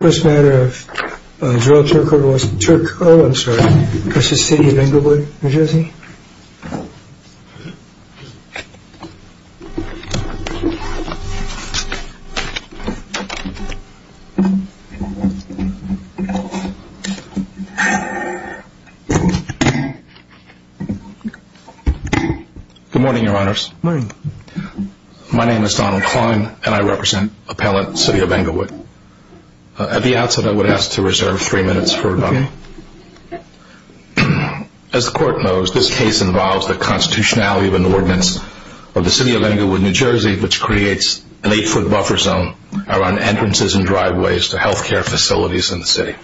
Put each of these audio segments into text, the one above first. Good morning, your honors. My name is Donald Klein, and I represent Appellant City of Englewood. At the outset, I would ask to reserve three minutes for rebuttal. As the Court knows, this case involves the constitutionality of an ordinance of the City of Englewood, New Jersey, which creates an eight-foot buffer zone around entrances and driveways to health care facilities in the city.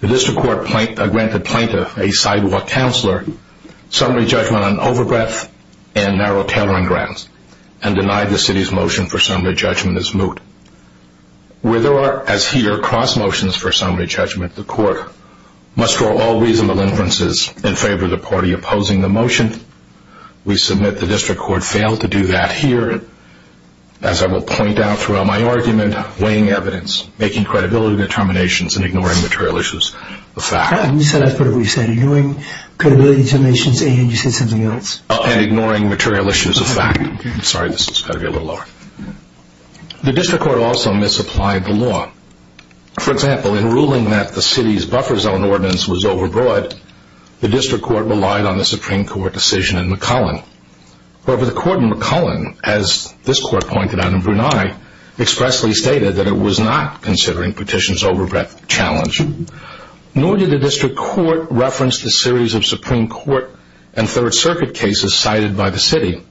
The District Court granted Plaintiff, a sidewalk counselor, summary judgment on overbreath and narrow tailoring grounds, and denied the City's motion for summary judgment as moot. Where there are, as here, cross-motions for summary judgment, the Court must draw all reasonable inferences in favor of the party opposing the motion. We submit the District Court failed to do that here, as I will point out throughout my argument, weighing evidence, making credibility determinations, and ignoring material issues of fact. I'm sorry, this has got to be a little lower. The District Court also misapplied the law. For example, in ruling that the City's buffer zone ordinance was overbroad, the District Court relied on the Supreme Court decision in McCullen. However, the Court in McCullen, as this Court pointed out in Brunei, expressly stated that it was not considering petitions' overbreath challenge, nor did the District Court reference the series of Supreme Court and Third Circuit cases cited by the City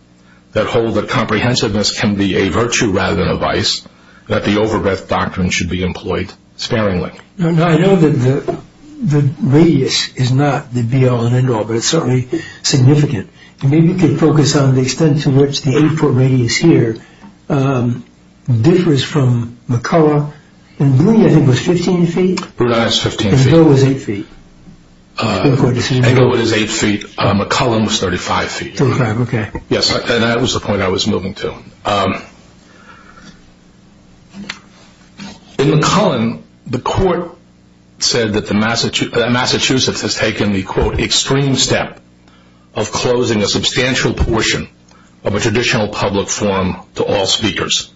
that hold that comprehensiveness can be a virtue rather than a vice, and that the overbreath doctrine should be employed sparingly. Now, I know that the radius is not the be-all and end-all, but it's certainly significant. Maybe you could focus on the extent to which the eight-foot radius here differs from McCullen. In Brunei, I think it was 15 feet? In Brunei, it was 15 feet. In Englewood, it was 8 feet. In Englewood, it was 8 feet. In McCullen, it was 35 feet. 35, okay. Yes, and that was the point I was moving to. In McCullen, the Court said that Massachusetts has taken the, quote, extreme step of closing a substantial portion of a traditional public forum to all speakers.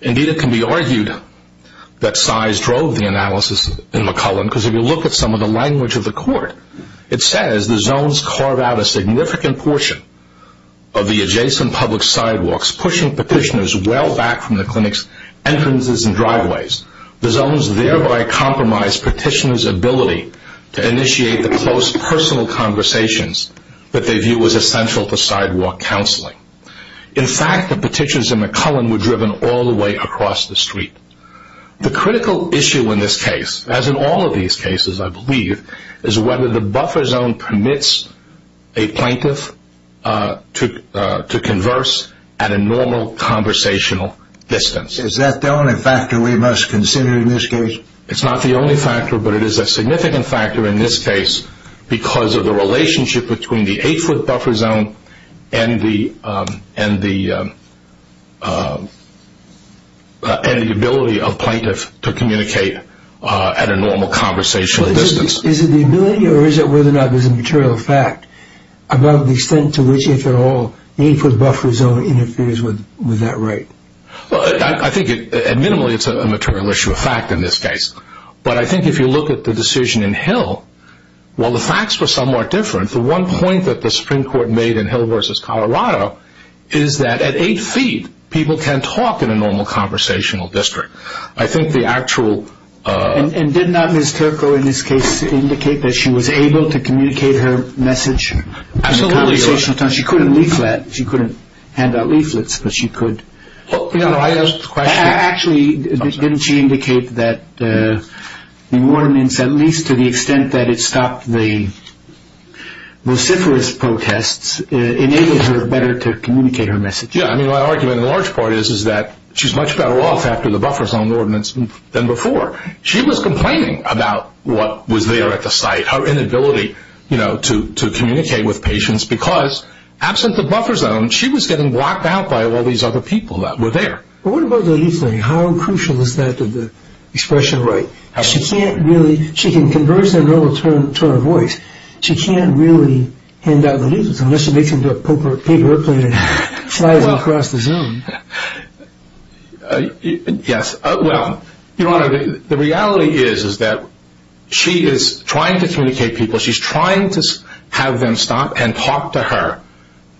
Indeed, it can be argued that size drove the analysis in McCullen, because if you look at some of the language of the Court, it says the zones carve out a significant portion of the adjacent public sidewalks, pushing petitioners well back from the clinic's entrances and driveways. The zones thereby compromise petitioners' ability to initiate the close personal conversations that they view as essential to sidewalk counseling. In fact, the petitions in McCullen were driven all the way across the street. The critical issue in this case, as in all of these cases, I believe, is whether the plaintiff is able to converse at a normal conversational distance. Is that the only factor we must consider in this case? It's not the only factor, but it is a significant factor in this case because of the relationship between the 8-foot buffer zone and the ability of plaintiff to communicate at a normal conversational distance. Is it the ability or is it whether or not it's a material fact about the extent to which if at all the 8-foot buffer zone interferes with that right? I think minimally it's a material issue of fact in this case. But I think if you look at the decision in Hill, while the facts were somewhat different, the one point that the Supreme Court made in Hill v. Colorado is that at 8 feet, people can talk in a normal conversational district. And did not Ms. Turco in this case indicate that she was able to communicate her message? Absolutely. She couldn't leaflet. She couldn't hand out leaflets, but she could. Actually, didn't she indicate that the warnings, at least to the extent that it stopped the vociferous protests, enabled her better to communicate her message? Yeah. I mean, my argument in large part is that she's much better off after the buffer zone ordinance than before. She was complaining about what was there at the site, her inability to communicate with patients, because absent the buffer zone, she was getting blocked out by all these other people that were there. But what about the leaflet? How crucial is that to the expression right? She can't really – she can converse in a normal tone of voice. She can't really hand out leaflets unless she makes them into a paper airplane and flies across the zone. Yes. Well, Your Honor, the reality is that she is trying to communicate people. She's trying to have them stop and talk to her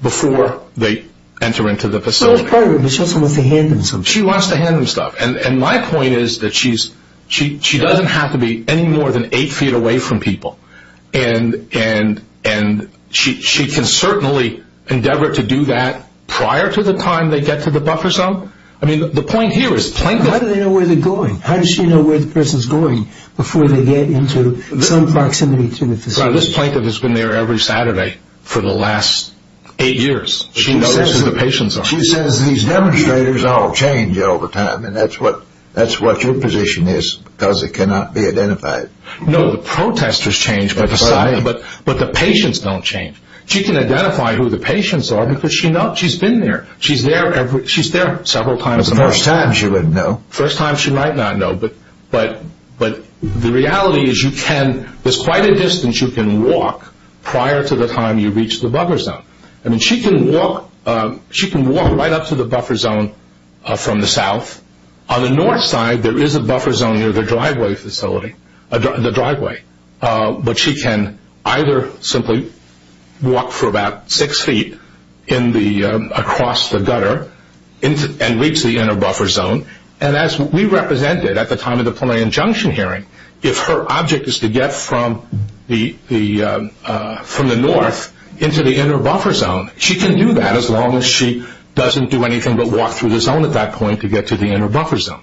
before they enter into the facility. She also wants to hand them stuff. She wants to hand them stuff. And my point is that she doesn't have to be any more than eight feet away from people. And she can certainly endeavor to do that prior to the time they get to the buffer zone. I mean, the point here is – How do they know where they're going? How does she know where the person's going before they get into some proximity to the facility? This plaintiff has been there every Saturday for the last eight years. She knows who the patients are. She says these demonstrators all change all the time. And that's what your position is because it cannot be identified. No, the protesters change, but the patients don't change. She can identify who the patients are because she's been there. She's there several times a month. The first time she wouldn't know. The first time she might not know. But the reality is you can – there's quite a distance you can walk prior to the time you reach the buffer zone. I mean, she can walk right up to the buffer zone from the south. On the north side, there is a buffer zone near the driveway facility, the driveway. But she can either simply walk for about six feet across the gutter and reach the inner buffer zone. And as we represented at the time of the plenary injunction hearing, if her object is to get from the north into the inner buffer zone, she can do that as long as she doesn't do anything but walk through the zone at that point to get to the inner buffer zone.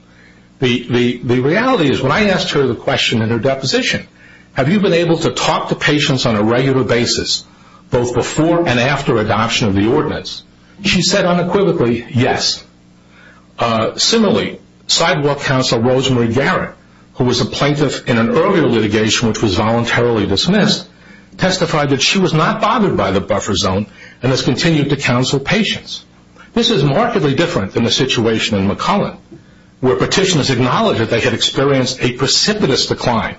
The reality is when I asked her the question in her deposition, have you been able to talk to patients on a regular basis both before and after adoption of the ordinance, she said unequivocally, yes. Similarly, sidewalk counsel Rosemary Garrett, who was a plaintiff in an earlier litigation which was voluntarily dismissed, testified that she was not bothered by the buffer zone and has continued to counsel patients. This is markedly different than the situation in McCullen, where petitioners acknowledged that they had experienced a precipitous decline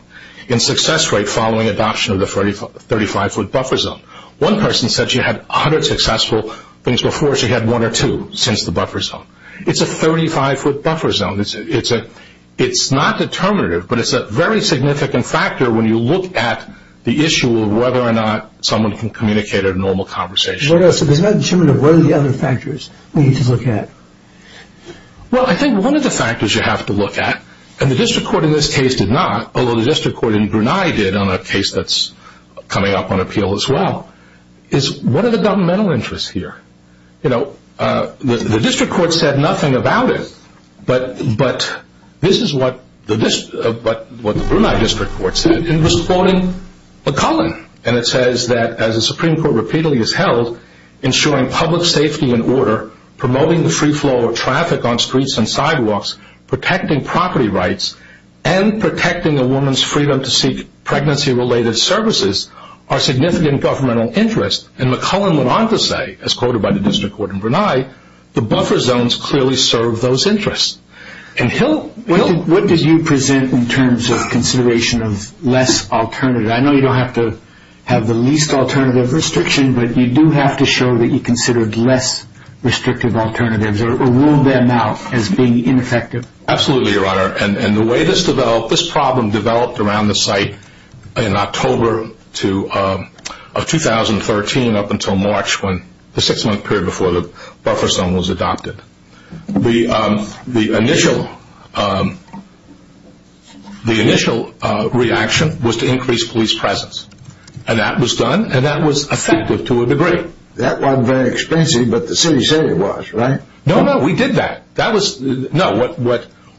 in success rate following adoption of the 35-foot buffer zone. One person said she had 100 successful things before she had one or two since the buffer zone. It's a 35-foot buffer zone. It's not determinative, but it's a very significant factor when you look at the issue of whether or not someone can communicate in a normal conversation. What else? If it's not determinative, what are the other factors we need to look at? Well, I think one of the factors you have to look at, and the district court in this case did not, although the district court in Brunei did on a case that's coming up on appeal as well, is what are the governmental interests here? The district court said nothing about it, but this is what the Brunei district court said in responding to McCullen, and it says that as the Supreme Court repeatedly has held, ensuring public safety and order, promoting the free flow of traffic on streets and sidewalks, protecting property rights, and protecting a woman's freedom to seek pregnancy-related services are significant governmental interests, and McCullen went on to say, as quoted by the district court in Brunei, the buffer zones clearly serve those interests. What did you present in terms of consideration of less alternative? I know you don't have to have the least alternative restriction, but you do have to show that you considered less restrictive alternatives or ruled them out as being ineffective. Absolutely, Your Honor, and the way this problem developed around the site in October of 2013 up until March, the six-month period before the buffer zone was adopted, the initial reaction was to increase police presence, and that was done, and that was effective to a degree. That wasn't very expensive, but the city said it was, right? No, no, we did that.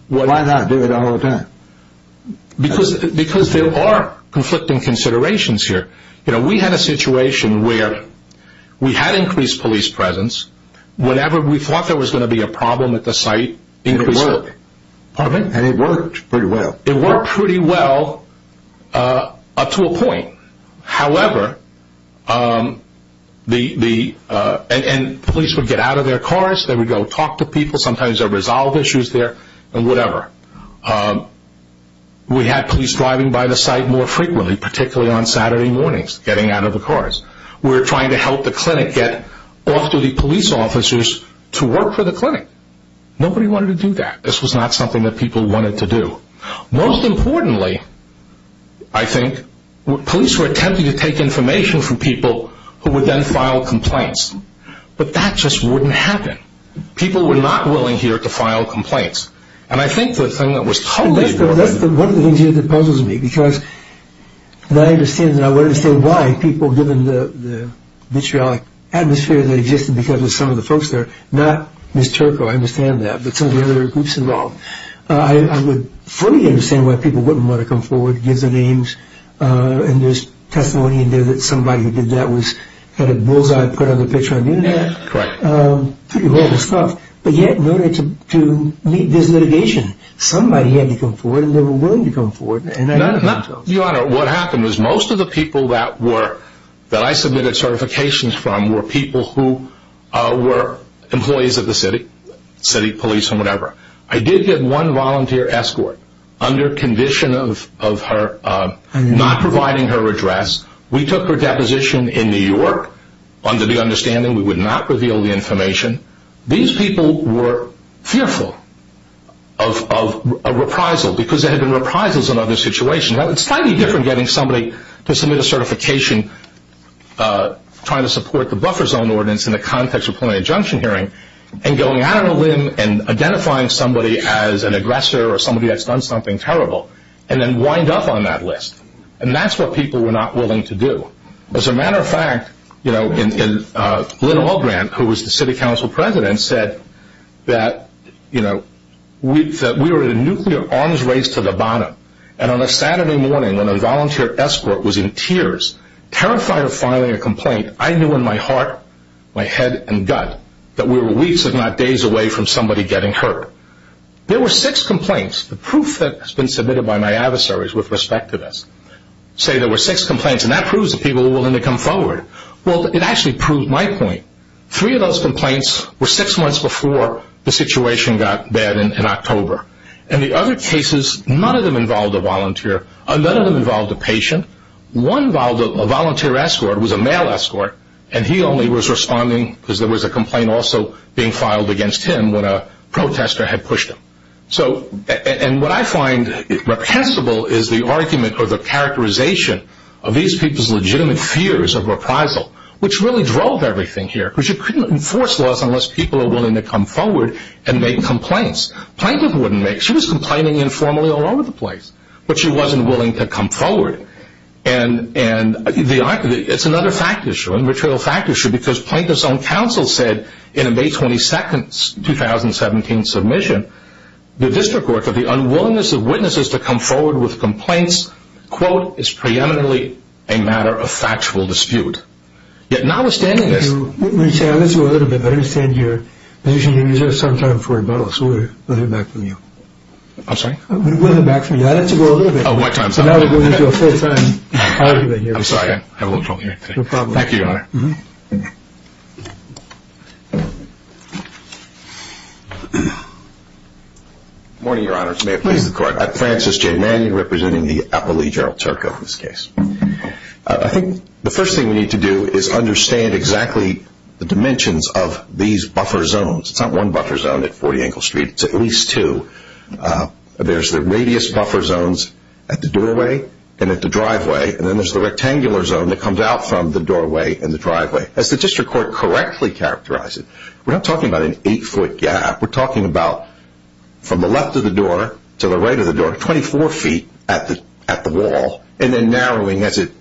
Why not do it all the time? Because there are conflicting considerations here. We had a situation where we had increased police presence whenever we thought there was going to be a problem at the site. It worked, and it worked pretty well. It worked pretty well up to a point. However, the police would get out of their cars. They would go talk to people. Sometimes there were resolve issues there and whatever. We had police driving by the site more frequently, particularly on Saturday mornings, getting out of the cars. We were trying to help the clinic get off to the police officers to work for the clinic. Nobody wanted to do that. This was not something that people wanted to do. Most importantly, I think, police were attempting to take information from people who would then file complaints, but that just wouldn't happen. People were not willing here to file complaints, and I think the thing that was totally worth it. That's one of the things here that puzzles me, because I understand and I want to understand why people, given the vitriolic atmosphere that existed because of some of the folks there, not Ms. Turco, I understand that, but some of the other groups involved, I would fully understand why people wouldn't want to come forward, give their names, and there's testimony in there that somebody who did that had a bullseye put on the picture on the Internet. Correct. Pretty horrible stuff, but yet in order to meet this litigation, somebody had to come forward and they were willing to come forward. Your Honor, what happened was most of the people that I submitted certifications from were people who were employees of the city, city police or whatever. I did get one volunteer escort under condition of her not providing her address. We took her deposition in New York under the understanding we would not reveal the information. These people were fearful of a reprisal because there had been reprisals in other situations. It's slightly different getting somebody to submit a certification trying to support the buffer zone ordinance in the context of pulling a junction hearing and going out on a limb and identifying somebody as an aggressor or somebody that's done something terrible and then wind up on that list. That's what people were not willing to do. As a matter of fact, Lynn Albrant, who was the city council president, said that we were in a nuclear arms race to the bottom. On a Saturday morning when a volunteer escort was in tears, terrified of filing a complaint, I knew in my heart, my head and gut that we were weeks if not days away from somebody getting hurt. There were six complaints. The proof that has been submitted by my adversaries with respect to this say there were six complaints and that proves that people were willing to come forward. Well, it actually proved my point. Three of those complaints were six months before the situation got bad in October. In the other cases, none of them involved a volunteer. None of them involved a patient. One volunteer escort was a male escort, and he only was responding because there was a complaint also being filed against him when a protester had pushed him. What I find reprehensible is the argument or the characterization of these people's legitimate fears of reprisal, which really drove everything here, because you couldn't enforce laws unless people were willing to come forward and make complaints. Plaintiffs wouldn't make complaints. She was complaining informally all over the place, but she wasn't willing to come forward. It's another fact issue, a material fact issue, because plaintiffs' own counsel said in a May 22, 2017, submission, the district court for the unwillingness of witnesses to come forward with complaints, quote, is preeminently a matter of factual dispute. Yet notwithstanding this. Let me say this a little bit. I understand your position. You're going to use this sometime for rebuttal, so we'll hear back from you. I'm sorry? We'll hear back from you. I had to go a little bit. Oh, my time's up. So now we're going into a full-time argument here. I'm sorry. I have a little trouble hearing today. No problem. Thank you, Your Honor. Good morning, Your Honors. May it please the Court. I'm Francis J. Mannion, representing the appellee, Gerald Turco, in this case. I think the first thing we need to do is understand exactly the dimensions of these buffer zones. It's not one buffer zone at 40 Engle Street. It's at least two. There's the radius buffer zones at the doorway and at the driveway, and then there's the rectangular zone that comes out from the doorway and the driveway. As the district court correctly characterized it, we're not talking about an eight-foot gap. We're talking about from the left of the door to the right of the door, 24 feet at the wall, and then narrowing as it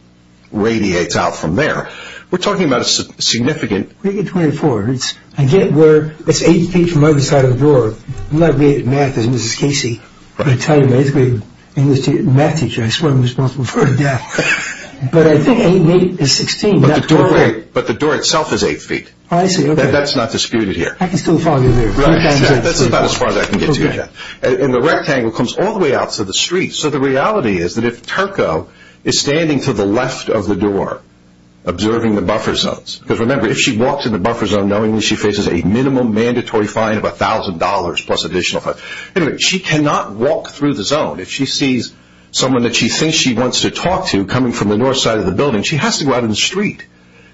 radiates out from there. We're talking about a significant… Where do you get 24? I get where it's eight feet from either side of the door. I'm not great at math as Mrs. Casey, but I tell you, I'm an eighth-grade English math teacher. I swear I'm responsible for her death. But I think eight is 16. But the door itself is eight feet. Oh, I see. That's not disputed here. I can still follow you there. Right. That's about as far as I can get to you. Okay. And the rectangle comes all the way out to the street. So the reality is that if Turco is standing to the left of the door observing the buffer zones, because, remember, if she walks in the buffer zone knowingly, she faces a minimum mandatory fine of $1,000 plus additional fine. Anyway, she cannot walk through the zone. If she sees someone that she thinks she wants to talk to coming from the north side of the building, she has to go out in the street.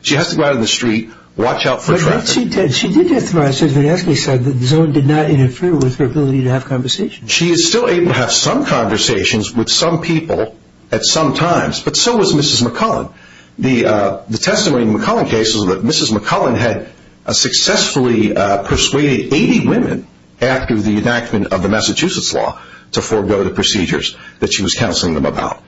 She has to go out in the street, watch out for traffic. But she did demonstrate that the zone did not interfere with her ability to have conversations. She is still able to have some conversations with some people at some times. But so was Mrs. McCullen. The testimony in the McCullen case was that Mrs. McCullen had successfully persuaded 80 women after the enactment of the Massachusetts law to forego the procedures that she was counseling them about.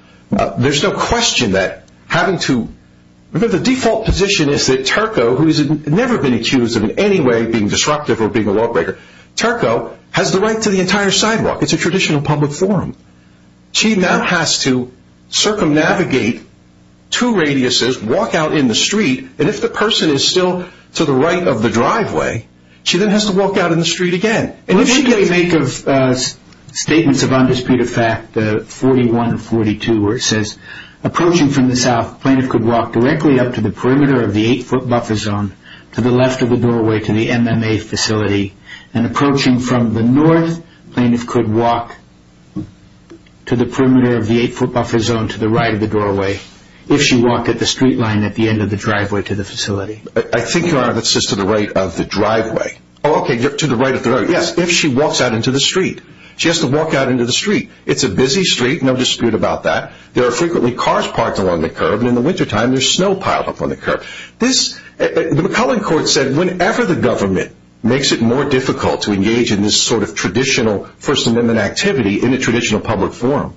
There's no question that having to – remember, the default position is that Turco, who has never been accused of in any way being disruptive or being a lawbreaker, Turco has the right to the entire sidewalk. It's a traditional public forum. She now has to circumnavigate two radiuses, walk out in the street, and if the person is still to the right of the driveway, she then has to walk out in the street again. What do you make of statements of undisputed fact, 41 and 42, where it says, approaching from the south, plaintiff could walk directly up to the perimeter of the eight-foot buffer zone to the left of the doorway to the MMA facility, and approaching from the north, plaintiff could walk to the perimeter of the eight-foot buffer zone to the right of the doorway if she walked at the street line at the end of the driveway to the facility. I think, Your Honor, that's just to the right of the driveway. Oh, okay, to the right of the – yes, if she walks out into the street. She has to walk out into the street. It's a busy street, no dispute about that. There are frequently cars parked along the curb, and in the wintertime, there's snow piled up on the curb. The McCullin Court said whenever the government makes it more difficult to engage in this sort of traditional First Amendment activity in a traditional public forum,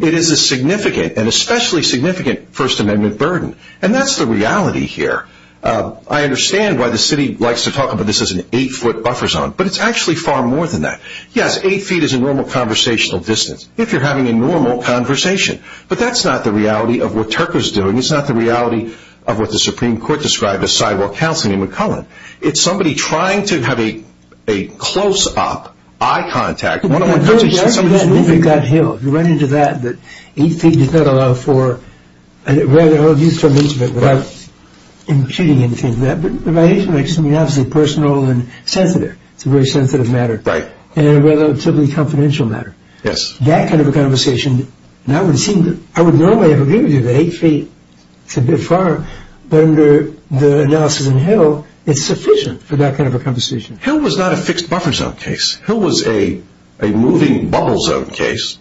it is a significant, and especially significant, First Amendment burden, and that's the reality here. I understand why the city likes to talk about this as an eight-foot buffer zone, but it's actually far more than that. Yes, eight feet is a normal conversational distance, if you're having a normal conversation, but that's not the reality of what Turker's doing. It's not the reality of what the Supreme Court described as sidewalk counseling in McCullin. It's somebody trying to have a close-up eye contact. One of my coaches said somebody's moving. If you run into that, that eight feet does not allow for – I don't know if you saw this, but I'm imputing anything to that, but eight feet makes something obviously personal and sensitive. It's a very sensitive matter and a relatively confidential matter. Yes. That kind of a conversation, and I would normally agree with you that eight feet is a bit far, but under the analysis in Hill, it's sufficient for that kind of a conversation. Hill was not a fixed buffer zone case. Hill was a moving bubble zone case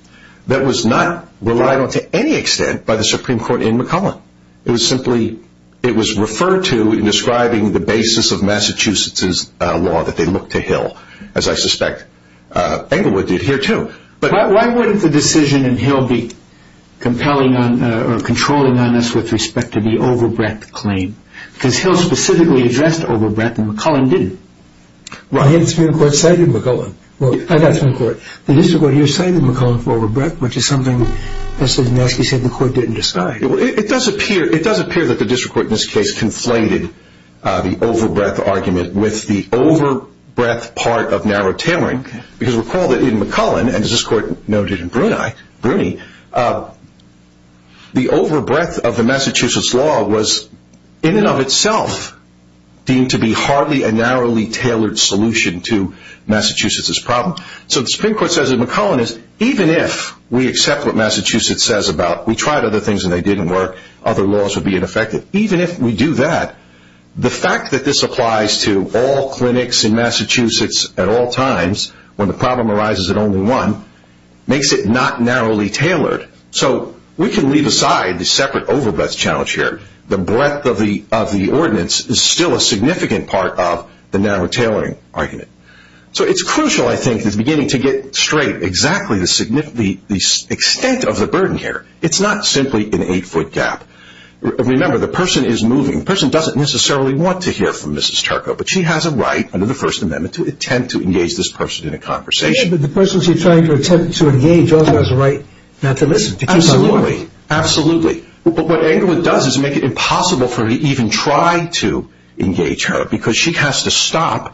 that was not relied on to any extent by the Supreme Court in McCullin. It was referred to in describing the basis of Massachusetts' law that they look to Hill, as I suspect Englewood did here, too. Why wouldn't the decision in Hill be compelling or controlling on us with respect to the over-breath claim? Because Hill specifically addressed over-breath, and McCullin didn't. The Supreme Court cited McCullin. Well, not the Supreme Court. The district court here cited McCullin for over-breath, which is something that Professor Donosky said the court didn't decide. It does appear that the district court in this case conflated the over-breath argument with the over-breath part of narrow tailoring, because recall that in McCullin, and as this court noted in Bruni, the over-breath of the Massachusetts law was in and of itself deemed to be hardly a narrowly tailored solution to Massachusetts' problem. So the Supreme Court says in McCullin that even if we accept what Massachusetts says about we tried other things and they didn't work, other laws would be ineffective, even if we do that, the fact that this applies to all clinics in Massachusetts at all times, when the problem arises at only one, makes it not narrowly tailored. So we can leave aside the separate over-breath challenge here. The breadth of the ordinance is still a significant part of the narrow tailoring argument. So it's crucial, I think, in beginning to get straight exactly the extent of the burden here. It's not simply an eight-foot gap. Remember, the person is moving. The person doesn't necessarily want to hear from Mrs. Turco, but she has a right under the First Amendment to attempt to engage this person in a conversation. Yes, but the person she's trying to attempt to engage also has a right not to listen. Absolutely. Absolutely. But what Englewood does is make it impossible for her to even try to engage her, because she has to stop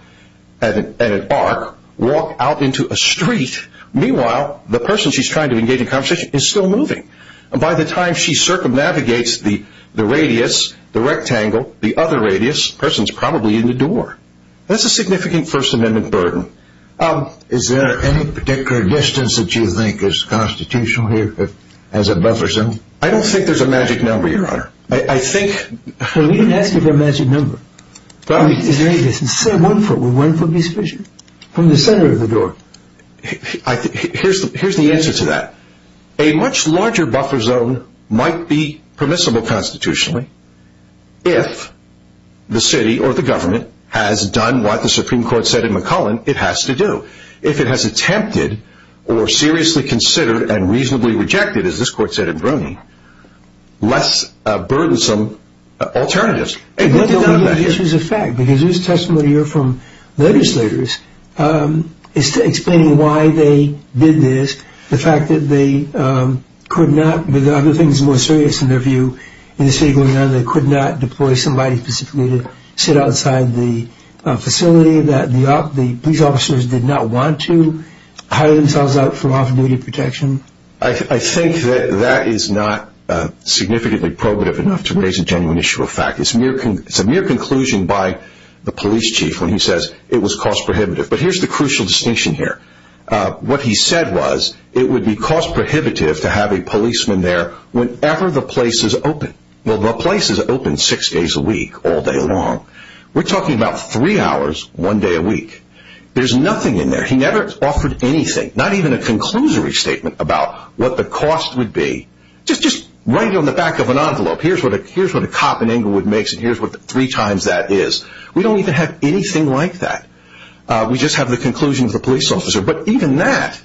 at an arc, walk out into a street. Meanwhile, the person she's trying to engage in conversation is still moving. By the time she circumnavigates the radius, the rectangle, the other radius, the person's probably in the door. That's a significant First Amendment burden. Is there any particular distance that you think is constitutional here, as it bothers him? I don't think there's a magic number, Your Honor. We didn't ask you for a magic number. Is there any distance? Say one foot. Would one foot be sufficient? From the center of the door. Here's the answer to that. A much larger buffer zone might be permissible constitutionally if the city or the government has done what the Supreme Court said in McCullen it has to do. If it has attempted or seriously considered and reasonably rejected, as this Court said in Brony, less burdensome alternatives. This is a fact, because this testimony here from legislators is explaining why they did this, the fact that they could not, with other things more serious in their view, in the state of Illinois they could not deploy somebody specifically to sit outside the facility that the police officers did not want to hire themselves out for off-duty protection. I think that that is not significantly probative enough to raise a genuine issue of fact. It's a mere conclusion by the police chief when he says it was cost prohibitive. But here's the crucial distinction here. What he said was it would be cost prohibitive to have a policeman there whenever the place is open. The place is open six days a week, all day long. We're talking about three hours, one day a week. There's nothing in there. He never offered anything. Not even a conclusory statement about what the cost would be. Just right on the back of an envelope. Here's what a cop in Inglewood makes and here's what three times that is. We don't even have anything like that. We just have the conclusion of the police officer. But even that,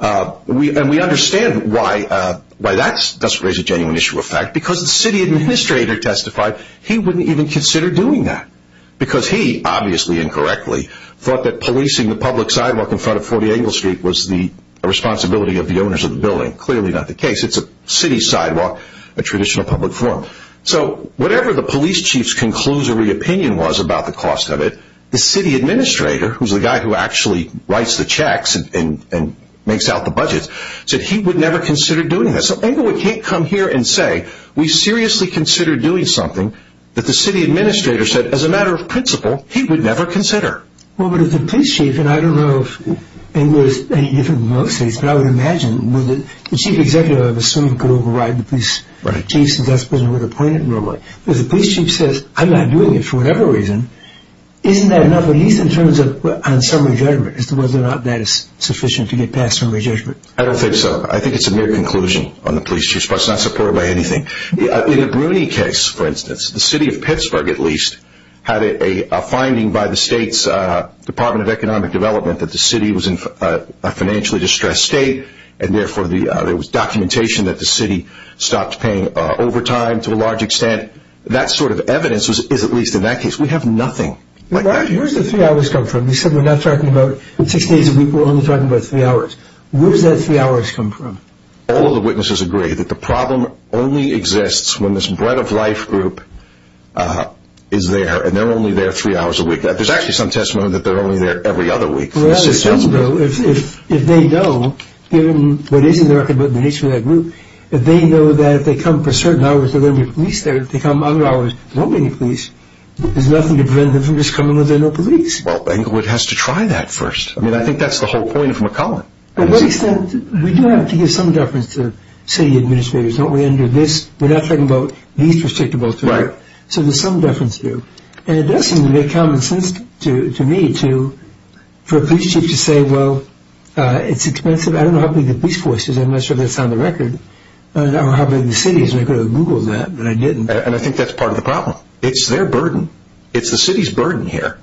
and we understand why that doesn't raise a genuine issue of fact, because the city administrator testified he wouldn't even consider doing that. Because he, obviously incorrectly, thought that policing the public sidewalk in front of 40 Engle Street was the responsibility of the owners of the building. Clearly not the case. It's a city sidewalk, a traditional public forum. So whatever the police chief's conclusory opinion was about the cost of it, the city administrator, who's the guy who actually writes the checks and makes out the budget, said he would never consider doing that. So Inglewood can't come here and say, we seriously considered doing something that the city administrator said, as a matter of principle, he would never consider. Well, but if the police chief, and I don't know if Inglewood is any different than most states, but I would imagine the chief executive, I would assume, could override the police chief's decision with a point of no remark. If the police chief says, I'm not doing it for whatever reason, isn't that enough, at least in terms of summary judgment, as to whether or not that is sufficient to get past summary judgment? I don't think so. I think it's a mere conclusion on the police chief's part. It's not supported by anything. In the Bruny case, for instance, the city of Pittsburgh, at least, had a finding by the state's Department of Economic Development that the city was in a financially distressed state, and therefore there was documentation that the city stopped paying overtime to a large extent. That sort of evidence is at least in that case. We have nothing. Where does the three hours come from? You said we're not talking about six days a week, we're only talking about three hours. Where does that three hours come from? All of the witnesses agree that the problem only exists when this bread-of-life group is there, and they're only there three hours a week. There's actually some testimony that they're only there every other week. Well, that is true, though. If they know, given what is in the record about the nature of that group, if they know that if they come for certain hours, there are going to be police there, if they come other hours, there won't be any police. There's nothing to prevent them from just coming when there's no police. Well, Englewood has to try that first. I mean, I think that's the whole point of McClellan. To what extent? We do have to give some deference to city administrators, don't we, under this? We're not talking about these restrictable things. So there's some deference there. And it does seem to make common sense to me for a police chief to say, well, it's expensive. I don't know how big the police force is, I'm not sure if that's on the record, or how big the city is. I could have Googled that, but I didn't. And I think that's part of the problem. It's their burden. It's the city's burden here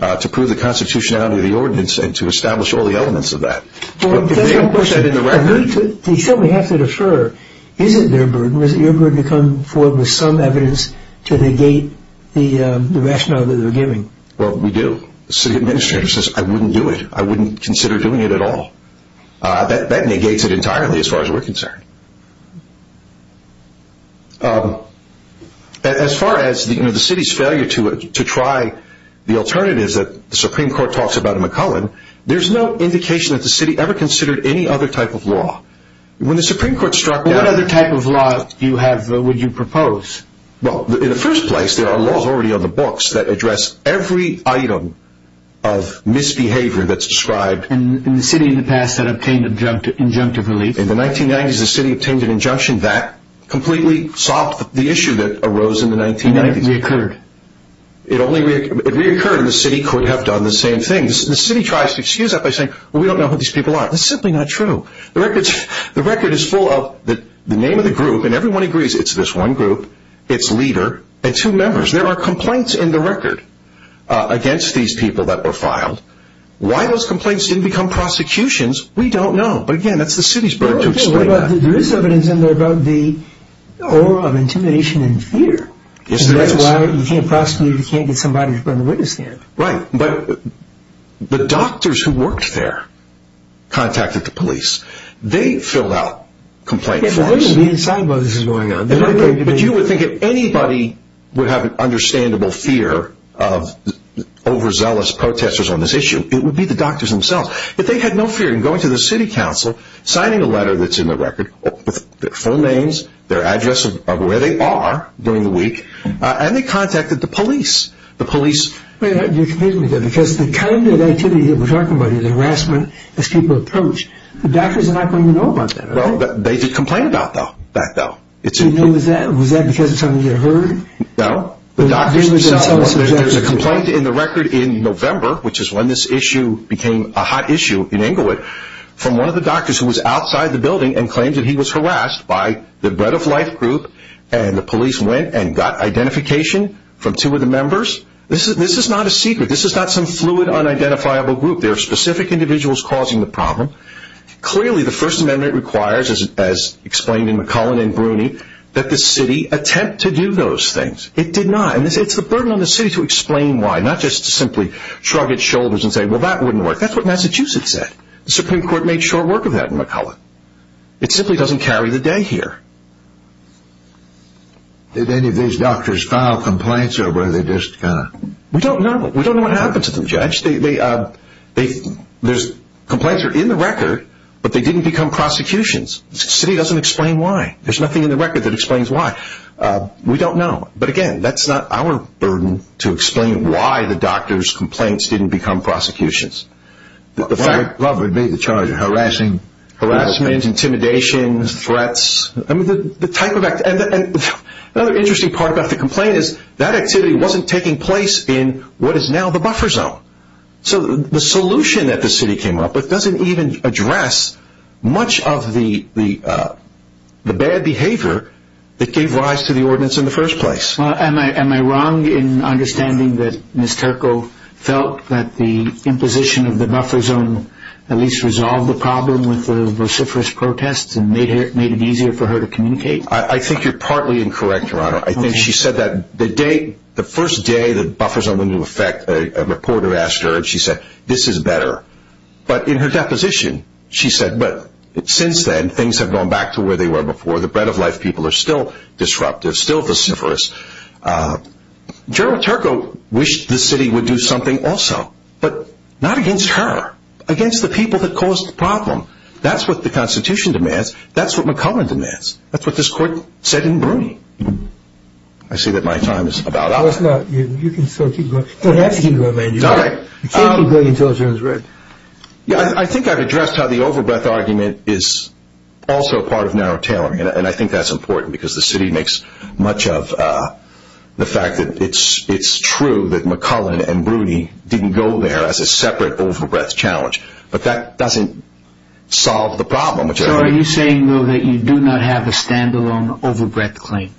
to prove the constitutionality of the ordinance and to establish all the elements of that. But if they don't put that in the record. They simply have to defer. Is it their burden or is it your burden to come forward with some evidence to negate the rationale that they're giving? Well, we do. The city administrator says, I wouldn't do it. I wouldn't consider doing it at all. That negates it entirely as far as we're concerned. As far as the city's failure to try the alternatives that the Supreme Court talks about in McClellan, there's no indication that the city ever considered any other type of law. When the Supreme Court struck down. What other type of law would you propose? Well, in the first place, there are laws already on the books that address every item of misbehavior that's described. In the city in the past that obtained injunctive relief. In the 1990s, the city obtained an injunction that completely solved the issue that arose in the 1990s. It only reoccurred. It only reoccurred and the city could have done the same thing. The city tries to excuse that by saying, well, we don't know who these people are. That's simply not true. The record is full of the name of the group, and everyone agrees it's this one group, its leader, and two members. There are complaints in the record against these people that were filed. Why those complaints didn't become prosecutions, we don't know. But again, that's the city's burden to explain that. There is evidence in there about the aura of intimidation and fear. Yes, there is. That's why you can't prosecute if you can't get somebody to bear the witness stand. Right. But the doctors who worked there contacted the police. They filled out complaint forms. They wouldn't be inside while this was going on. But you would think if anybody would have an understandable fear of overzealous protesters on this issue, it would be the doctors themselves. But they had no fear in going to the city council, signing a letter that's in the record, with their full names, their address of where they are during the week, and they contacted the police. You're completely right. Because the kind of activity that we're talking about is harassment as people approach. The doctors are not going to know about that. They did complain about that, though. Was that because it's going to get heard? No. There's a complaint in the record in November, which is when this issue became a hot issue in Inglewood, from one of the doctors who was outside the building and claimed that he was harassed by the Bread of Life group, and the police went and got identification from two of the members. This is not a secret. This is not some fluid, unidentifiable group. There are specific individuals causing the problem. Clearly the First Amendment requires, as explained in McCullen and Bruni, that the city attempt to do those things. It did not. It's the burden on the city to explain why, not just to simply shrug its shoulders and say, well, that wouldn't work. That's what Massachusetts said. The Supreme Court made short work of that in McCullen. It simply doesn't carry the day here. Did any of these doctors file complaints or were they just kind of... We don't know. We don't know what happened to them, Judge. Complaints are in the record, but they didn't become prosecutions. The city doesn't explain why. There's nothing in the record that explains why. We don't know. But, again, that's not our burden to explain why the doctors' complaints didn't become prosecutions. Robert would be the charge of harassing. Harassment, intimidation, threats. Another interesting part about the complaint is that activity wasn't taking place in what is now the buffer zone. So the solution that the city came up with doesn't even address much of the bad behavior that gave rise to the ordinance in the first place. Am I wrong in understanding that Ms. Turco felt that the imposition of the buffer zone at least resolved the problem with the vociferous protests and made it easier for her to communicate? I think she said that the first day the buffer zone went into effect, a reporter asked her, and she said, this is better. But in her deposition, she said, but since then, things have gone back to where they were before. The Bread of Life people are still disruptive, still vociferous. General Turco wished the city would do something also, but not against her. Against the people that caused the problem. That's what the Constitution demands. That's what McCullin demands. That's what this court said in Bruni. I see that my time is about up. You can still keep going. You don't have to keep going. You can't keep going until it's over. I think I've addressed how the overbreath argument is also part of narrow tailoring, and I think that's important because the city makes much of the fact that it's true that McCullin and Bruni didn't go there as a separate overbreath challenge. But that doesn't solve the problem. So are you saying, though, that you do not have a stand-alone overbreath claim?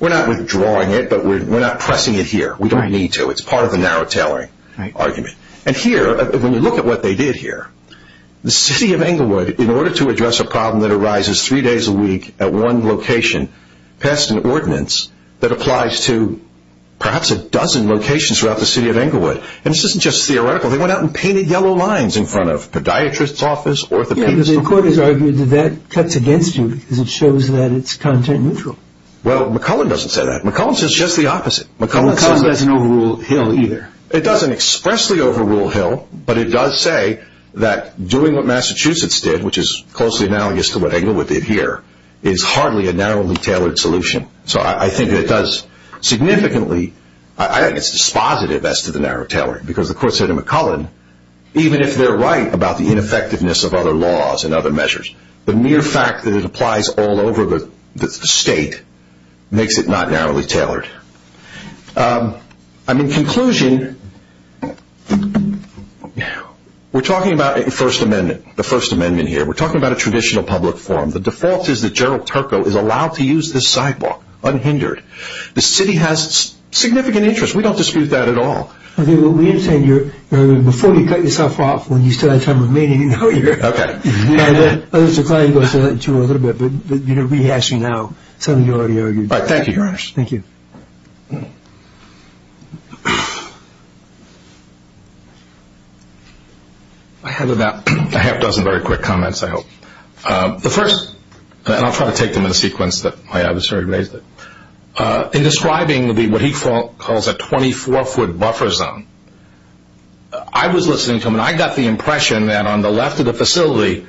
We're not withdrawing it, but we're not pressing it here. We don't need to. It's part of the narrow tailoring argument. And here, when you look at what they did here, the city of Englewood, in order to address a problem that arises three days a week at one location, passed an ordinance that applies to perhaps a dozen locations throughout the city of Englewood. And this isn't just theoretical. They went out and painted yellow lines in front of podiatrists' offices, orthopedists' offices. And the court has argued that that cuts against you because it shows that it's content neutral. Well, McCullin doesn't say that. McCullin says just the opposite. McCullin doesn't overrule Hill either. It doesn't expressly overrule Hill, but it does say that doing what Massachusetts did, which is closely analogous to what Englewood did here, is hardly a narrowly tailored solution. So I think it does significantly. I think it's dispositive as to the narrow tailoring because the court said to McCullin, even if they're right about the ineffectiveness of other laws and other measures, the mere fact that it applies all over the state makes it not narrowly tailored. In conclusion, we're talking about the First Amendment here. We're talking about a traditional public forum. The default is that Gerald Turco is allowed to use this sidewalk unhindered. The city has significant interest. We don't dispute that at all. Okay. Well, we understand before you cut yourself off, when you still have time remaining, you know you're here. Okay. Others decline to go through that in a little bit. But we ask you now something you already argued. All right. Thank you, Your Honor. Thank you. I have about a half dozen very quick comments, I hope. The first, and I'll try to take them in a sequence that my adversary raised it. In describing what he calls a 24-foot buffer zone, I was listening to him, and I got the impression that on the left of the facility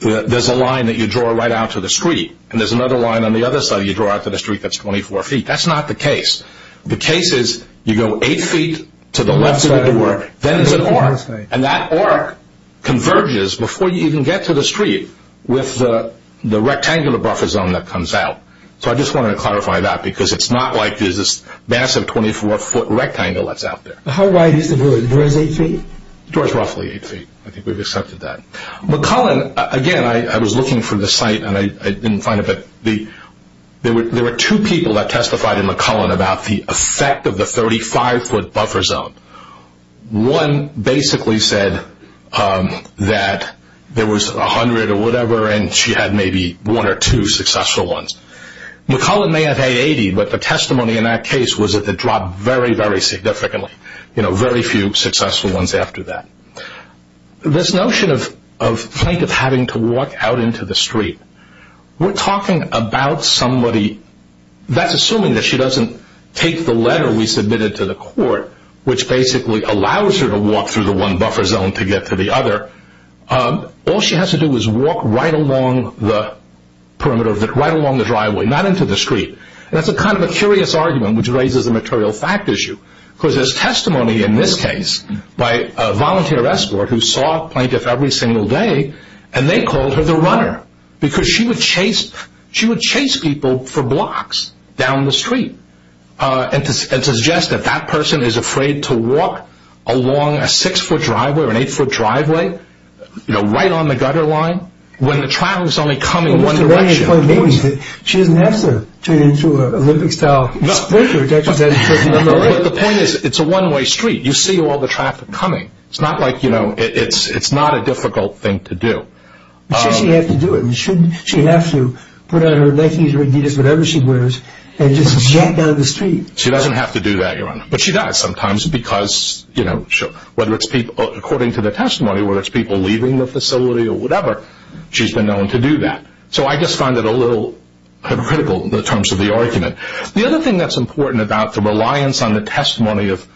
there's a line that you draw right out to the street, and there's another line on the other side you draw out to the street that's 24 feet. That's not the case. The case is you go eight feet to the left of the door, then there's an arc, and that arc converges before you even get to the street with the rectangular buffer zone that comes out. So I just wanted to clarify that because it's not like there's this massive 24-foot rectangle that's out there. How wide is the door? The door is eight feet? The door is roughly eight feet. I think we've accepted that. McCullen, again, I was looking for the site and I didn't find it, but there were two people that testified in McCullen about the effect of the 35-foot buffer zone. One basically said that there was 100 or whatever, and she had maybe one or two successful ones. McCullen may have had 80, but the testimony in that case was that it dropped very, very significantly. Very few successful ones after that. This notion of having to walk out into the street, we're talking about somebody. That's assuming that she doesn't take the letter we submitted to the court, which basically allows her to walk through the one buffer zone to get to the other. All she has to do is walk right along the perimeter, right along the driveway, not into the street. That's kind of a curious argument, which raises a material fact issue, because there's testimony in this case by a volunteer escort who saw a plaintiff every single day, and they called her the runner, because she would chase people for blocks down the street and suggest that that person is afraid to walk along a six-foot driveway or an eight-foot driveway, right on the gutter line, when the traffic is only coming one direction. She doesn't have to turn into an Olympic-style sport. The point is it's a one-way street. You see all the traffic coming. It's not a difficult thing to do. But she has to do it. She has to put on her Nikes or Adidas, whatever she wears, and just jet down the street. She doesn't have to do that, Your Honor. But she does sometimes, because according to the testimony, whether it's people leaving the facility or whatever, she's been known to do that. So I just find it a little hypocritical in terms of the argument. The other thing that's important about the reliance on the testimony of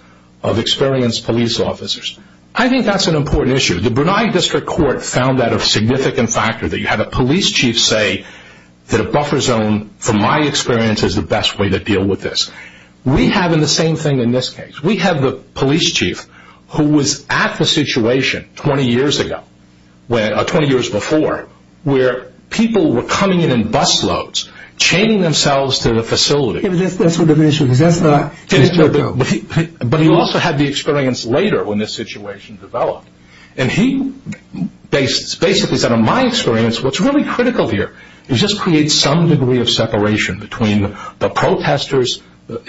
experienced police officers, I think that's an important issue. The Brunei District Court found that a significant factor, that you had a police chief say that a buffer zone, from my experience, is the best way to deal with this. We have the same thing in this case. We have the police chief who was at the situation 20 years before, where people were coming in in bus loads, chaining themselves to the facility. That's what the issue is. But he also had the experience later when this situation developed. And he basically said, in my experience, what's really critical here is just create some degree of separation between the protesters and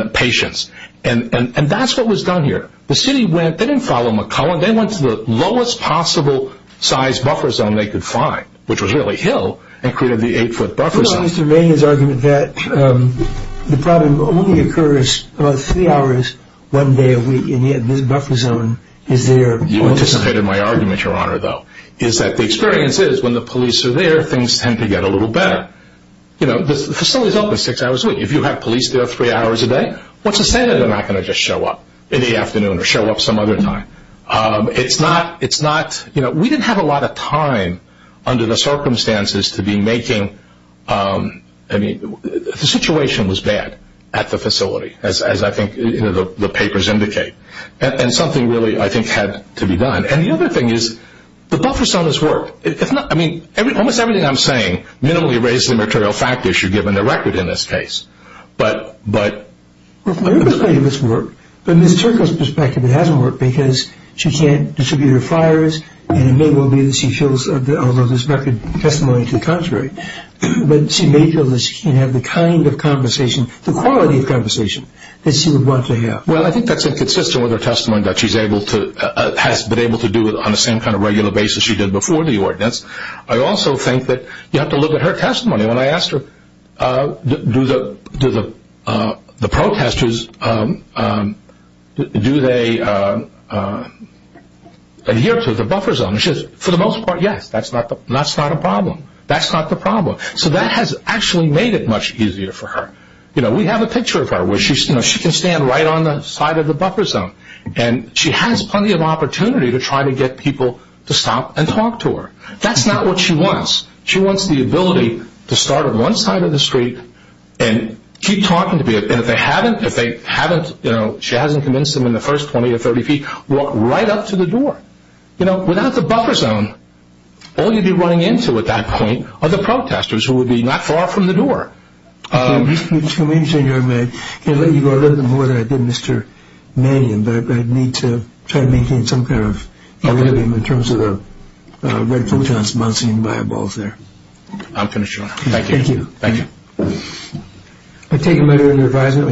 the patients. And that's what was done here. The city went, they didn't follow McClellan, they went to the lowest possible size buffer zone they could find, which was really Hill, and created the eight-foot buffer zone. Mr. Maynard's argument that the problem only occurs about three hours, one day a week, and yet this buffer zone is there. You anticipated my argument, Your Honor, though, is that the experience is when the police are there, things tend to get a little better. The facility's open six hours a week. If you have police there three hours a day, what's the standard they're not going to just show up in the afternoon or show up some other time? It's not, you know, we didn't have a lot of time under the circumstances to be making, I mean, the situation was bad at the facility, as I think the papers indicate. And something really, I think, had to be done. And the other thing is the buffer zone has worked. Almost everything I'm saying minimally raises the material fact issue, given the record in this case. But it has worked. But Ms. Turco's perspective, it hasn't worked because she can't distribute her flyers and it may well be that she fills all of this record testimony to the contrary. But she may feel that she can't have the kind of conversation, the quality of conversation, that she would want to have. Well, I think that's inconsistent with her testimony that she's able to, has been able to do it on the same kind of regular basis she did before the ordinance. I also think that you have to look at her testimony. When I asked her, do the protesters, do they adhere to the buffer zone? She says, for the most part, yes, that's not a problem. That's not the problem. So that has actually made it much easier for her. You know, we have a picture of her where she can stand right on the side of the buffer zone. And she has plenty of opportunity to try to get people to stop and talk to her. That's not what she wants. She wants the ability to start on one side of the street and keep talking to people. And if they haven't, you know, she hasn't convinced them in the first 20 or 30 feet, walk right up to the door. You know, without the buffer zone, all you'd be running into at that point are the protesters who would be not far from the door. Thank you so much. I can't let you go a little bit more than I did, Mr. Mannion, but I'd need to try to maintain some kind of equilibrium in terms of the red photons bouncing in my eyeballs there. I'm finished, Your Honor. Thank you. Thank you. Thank you.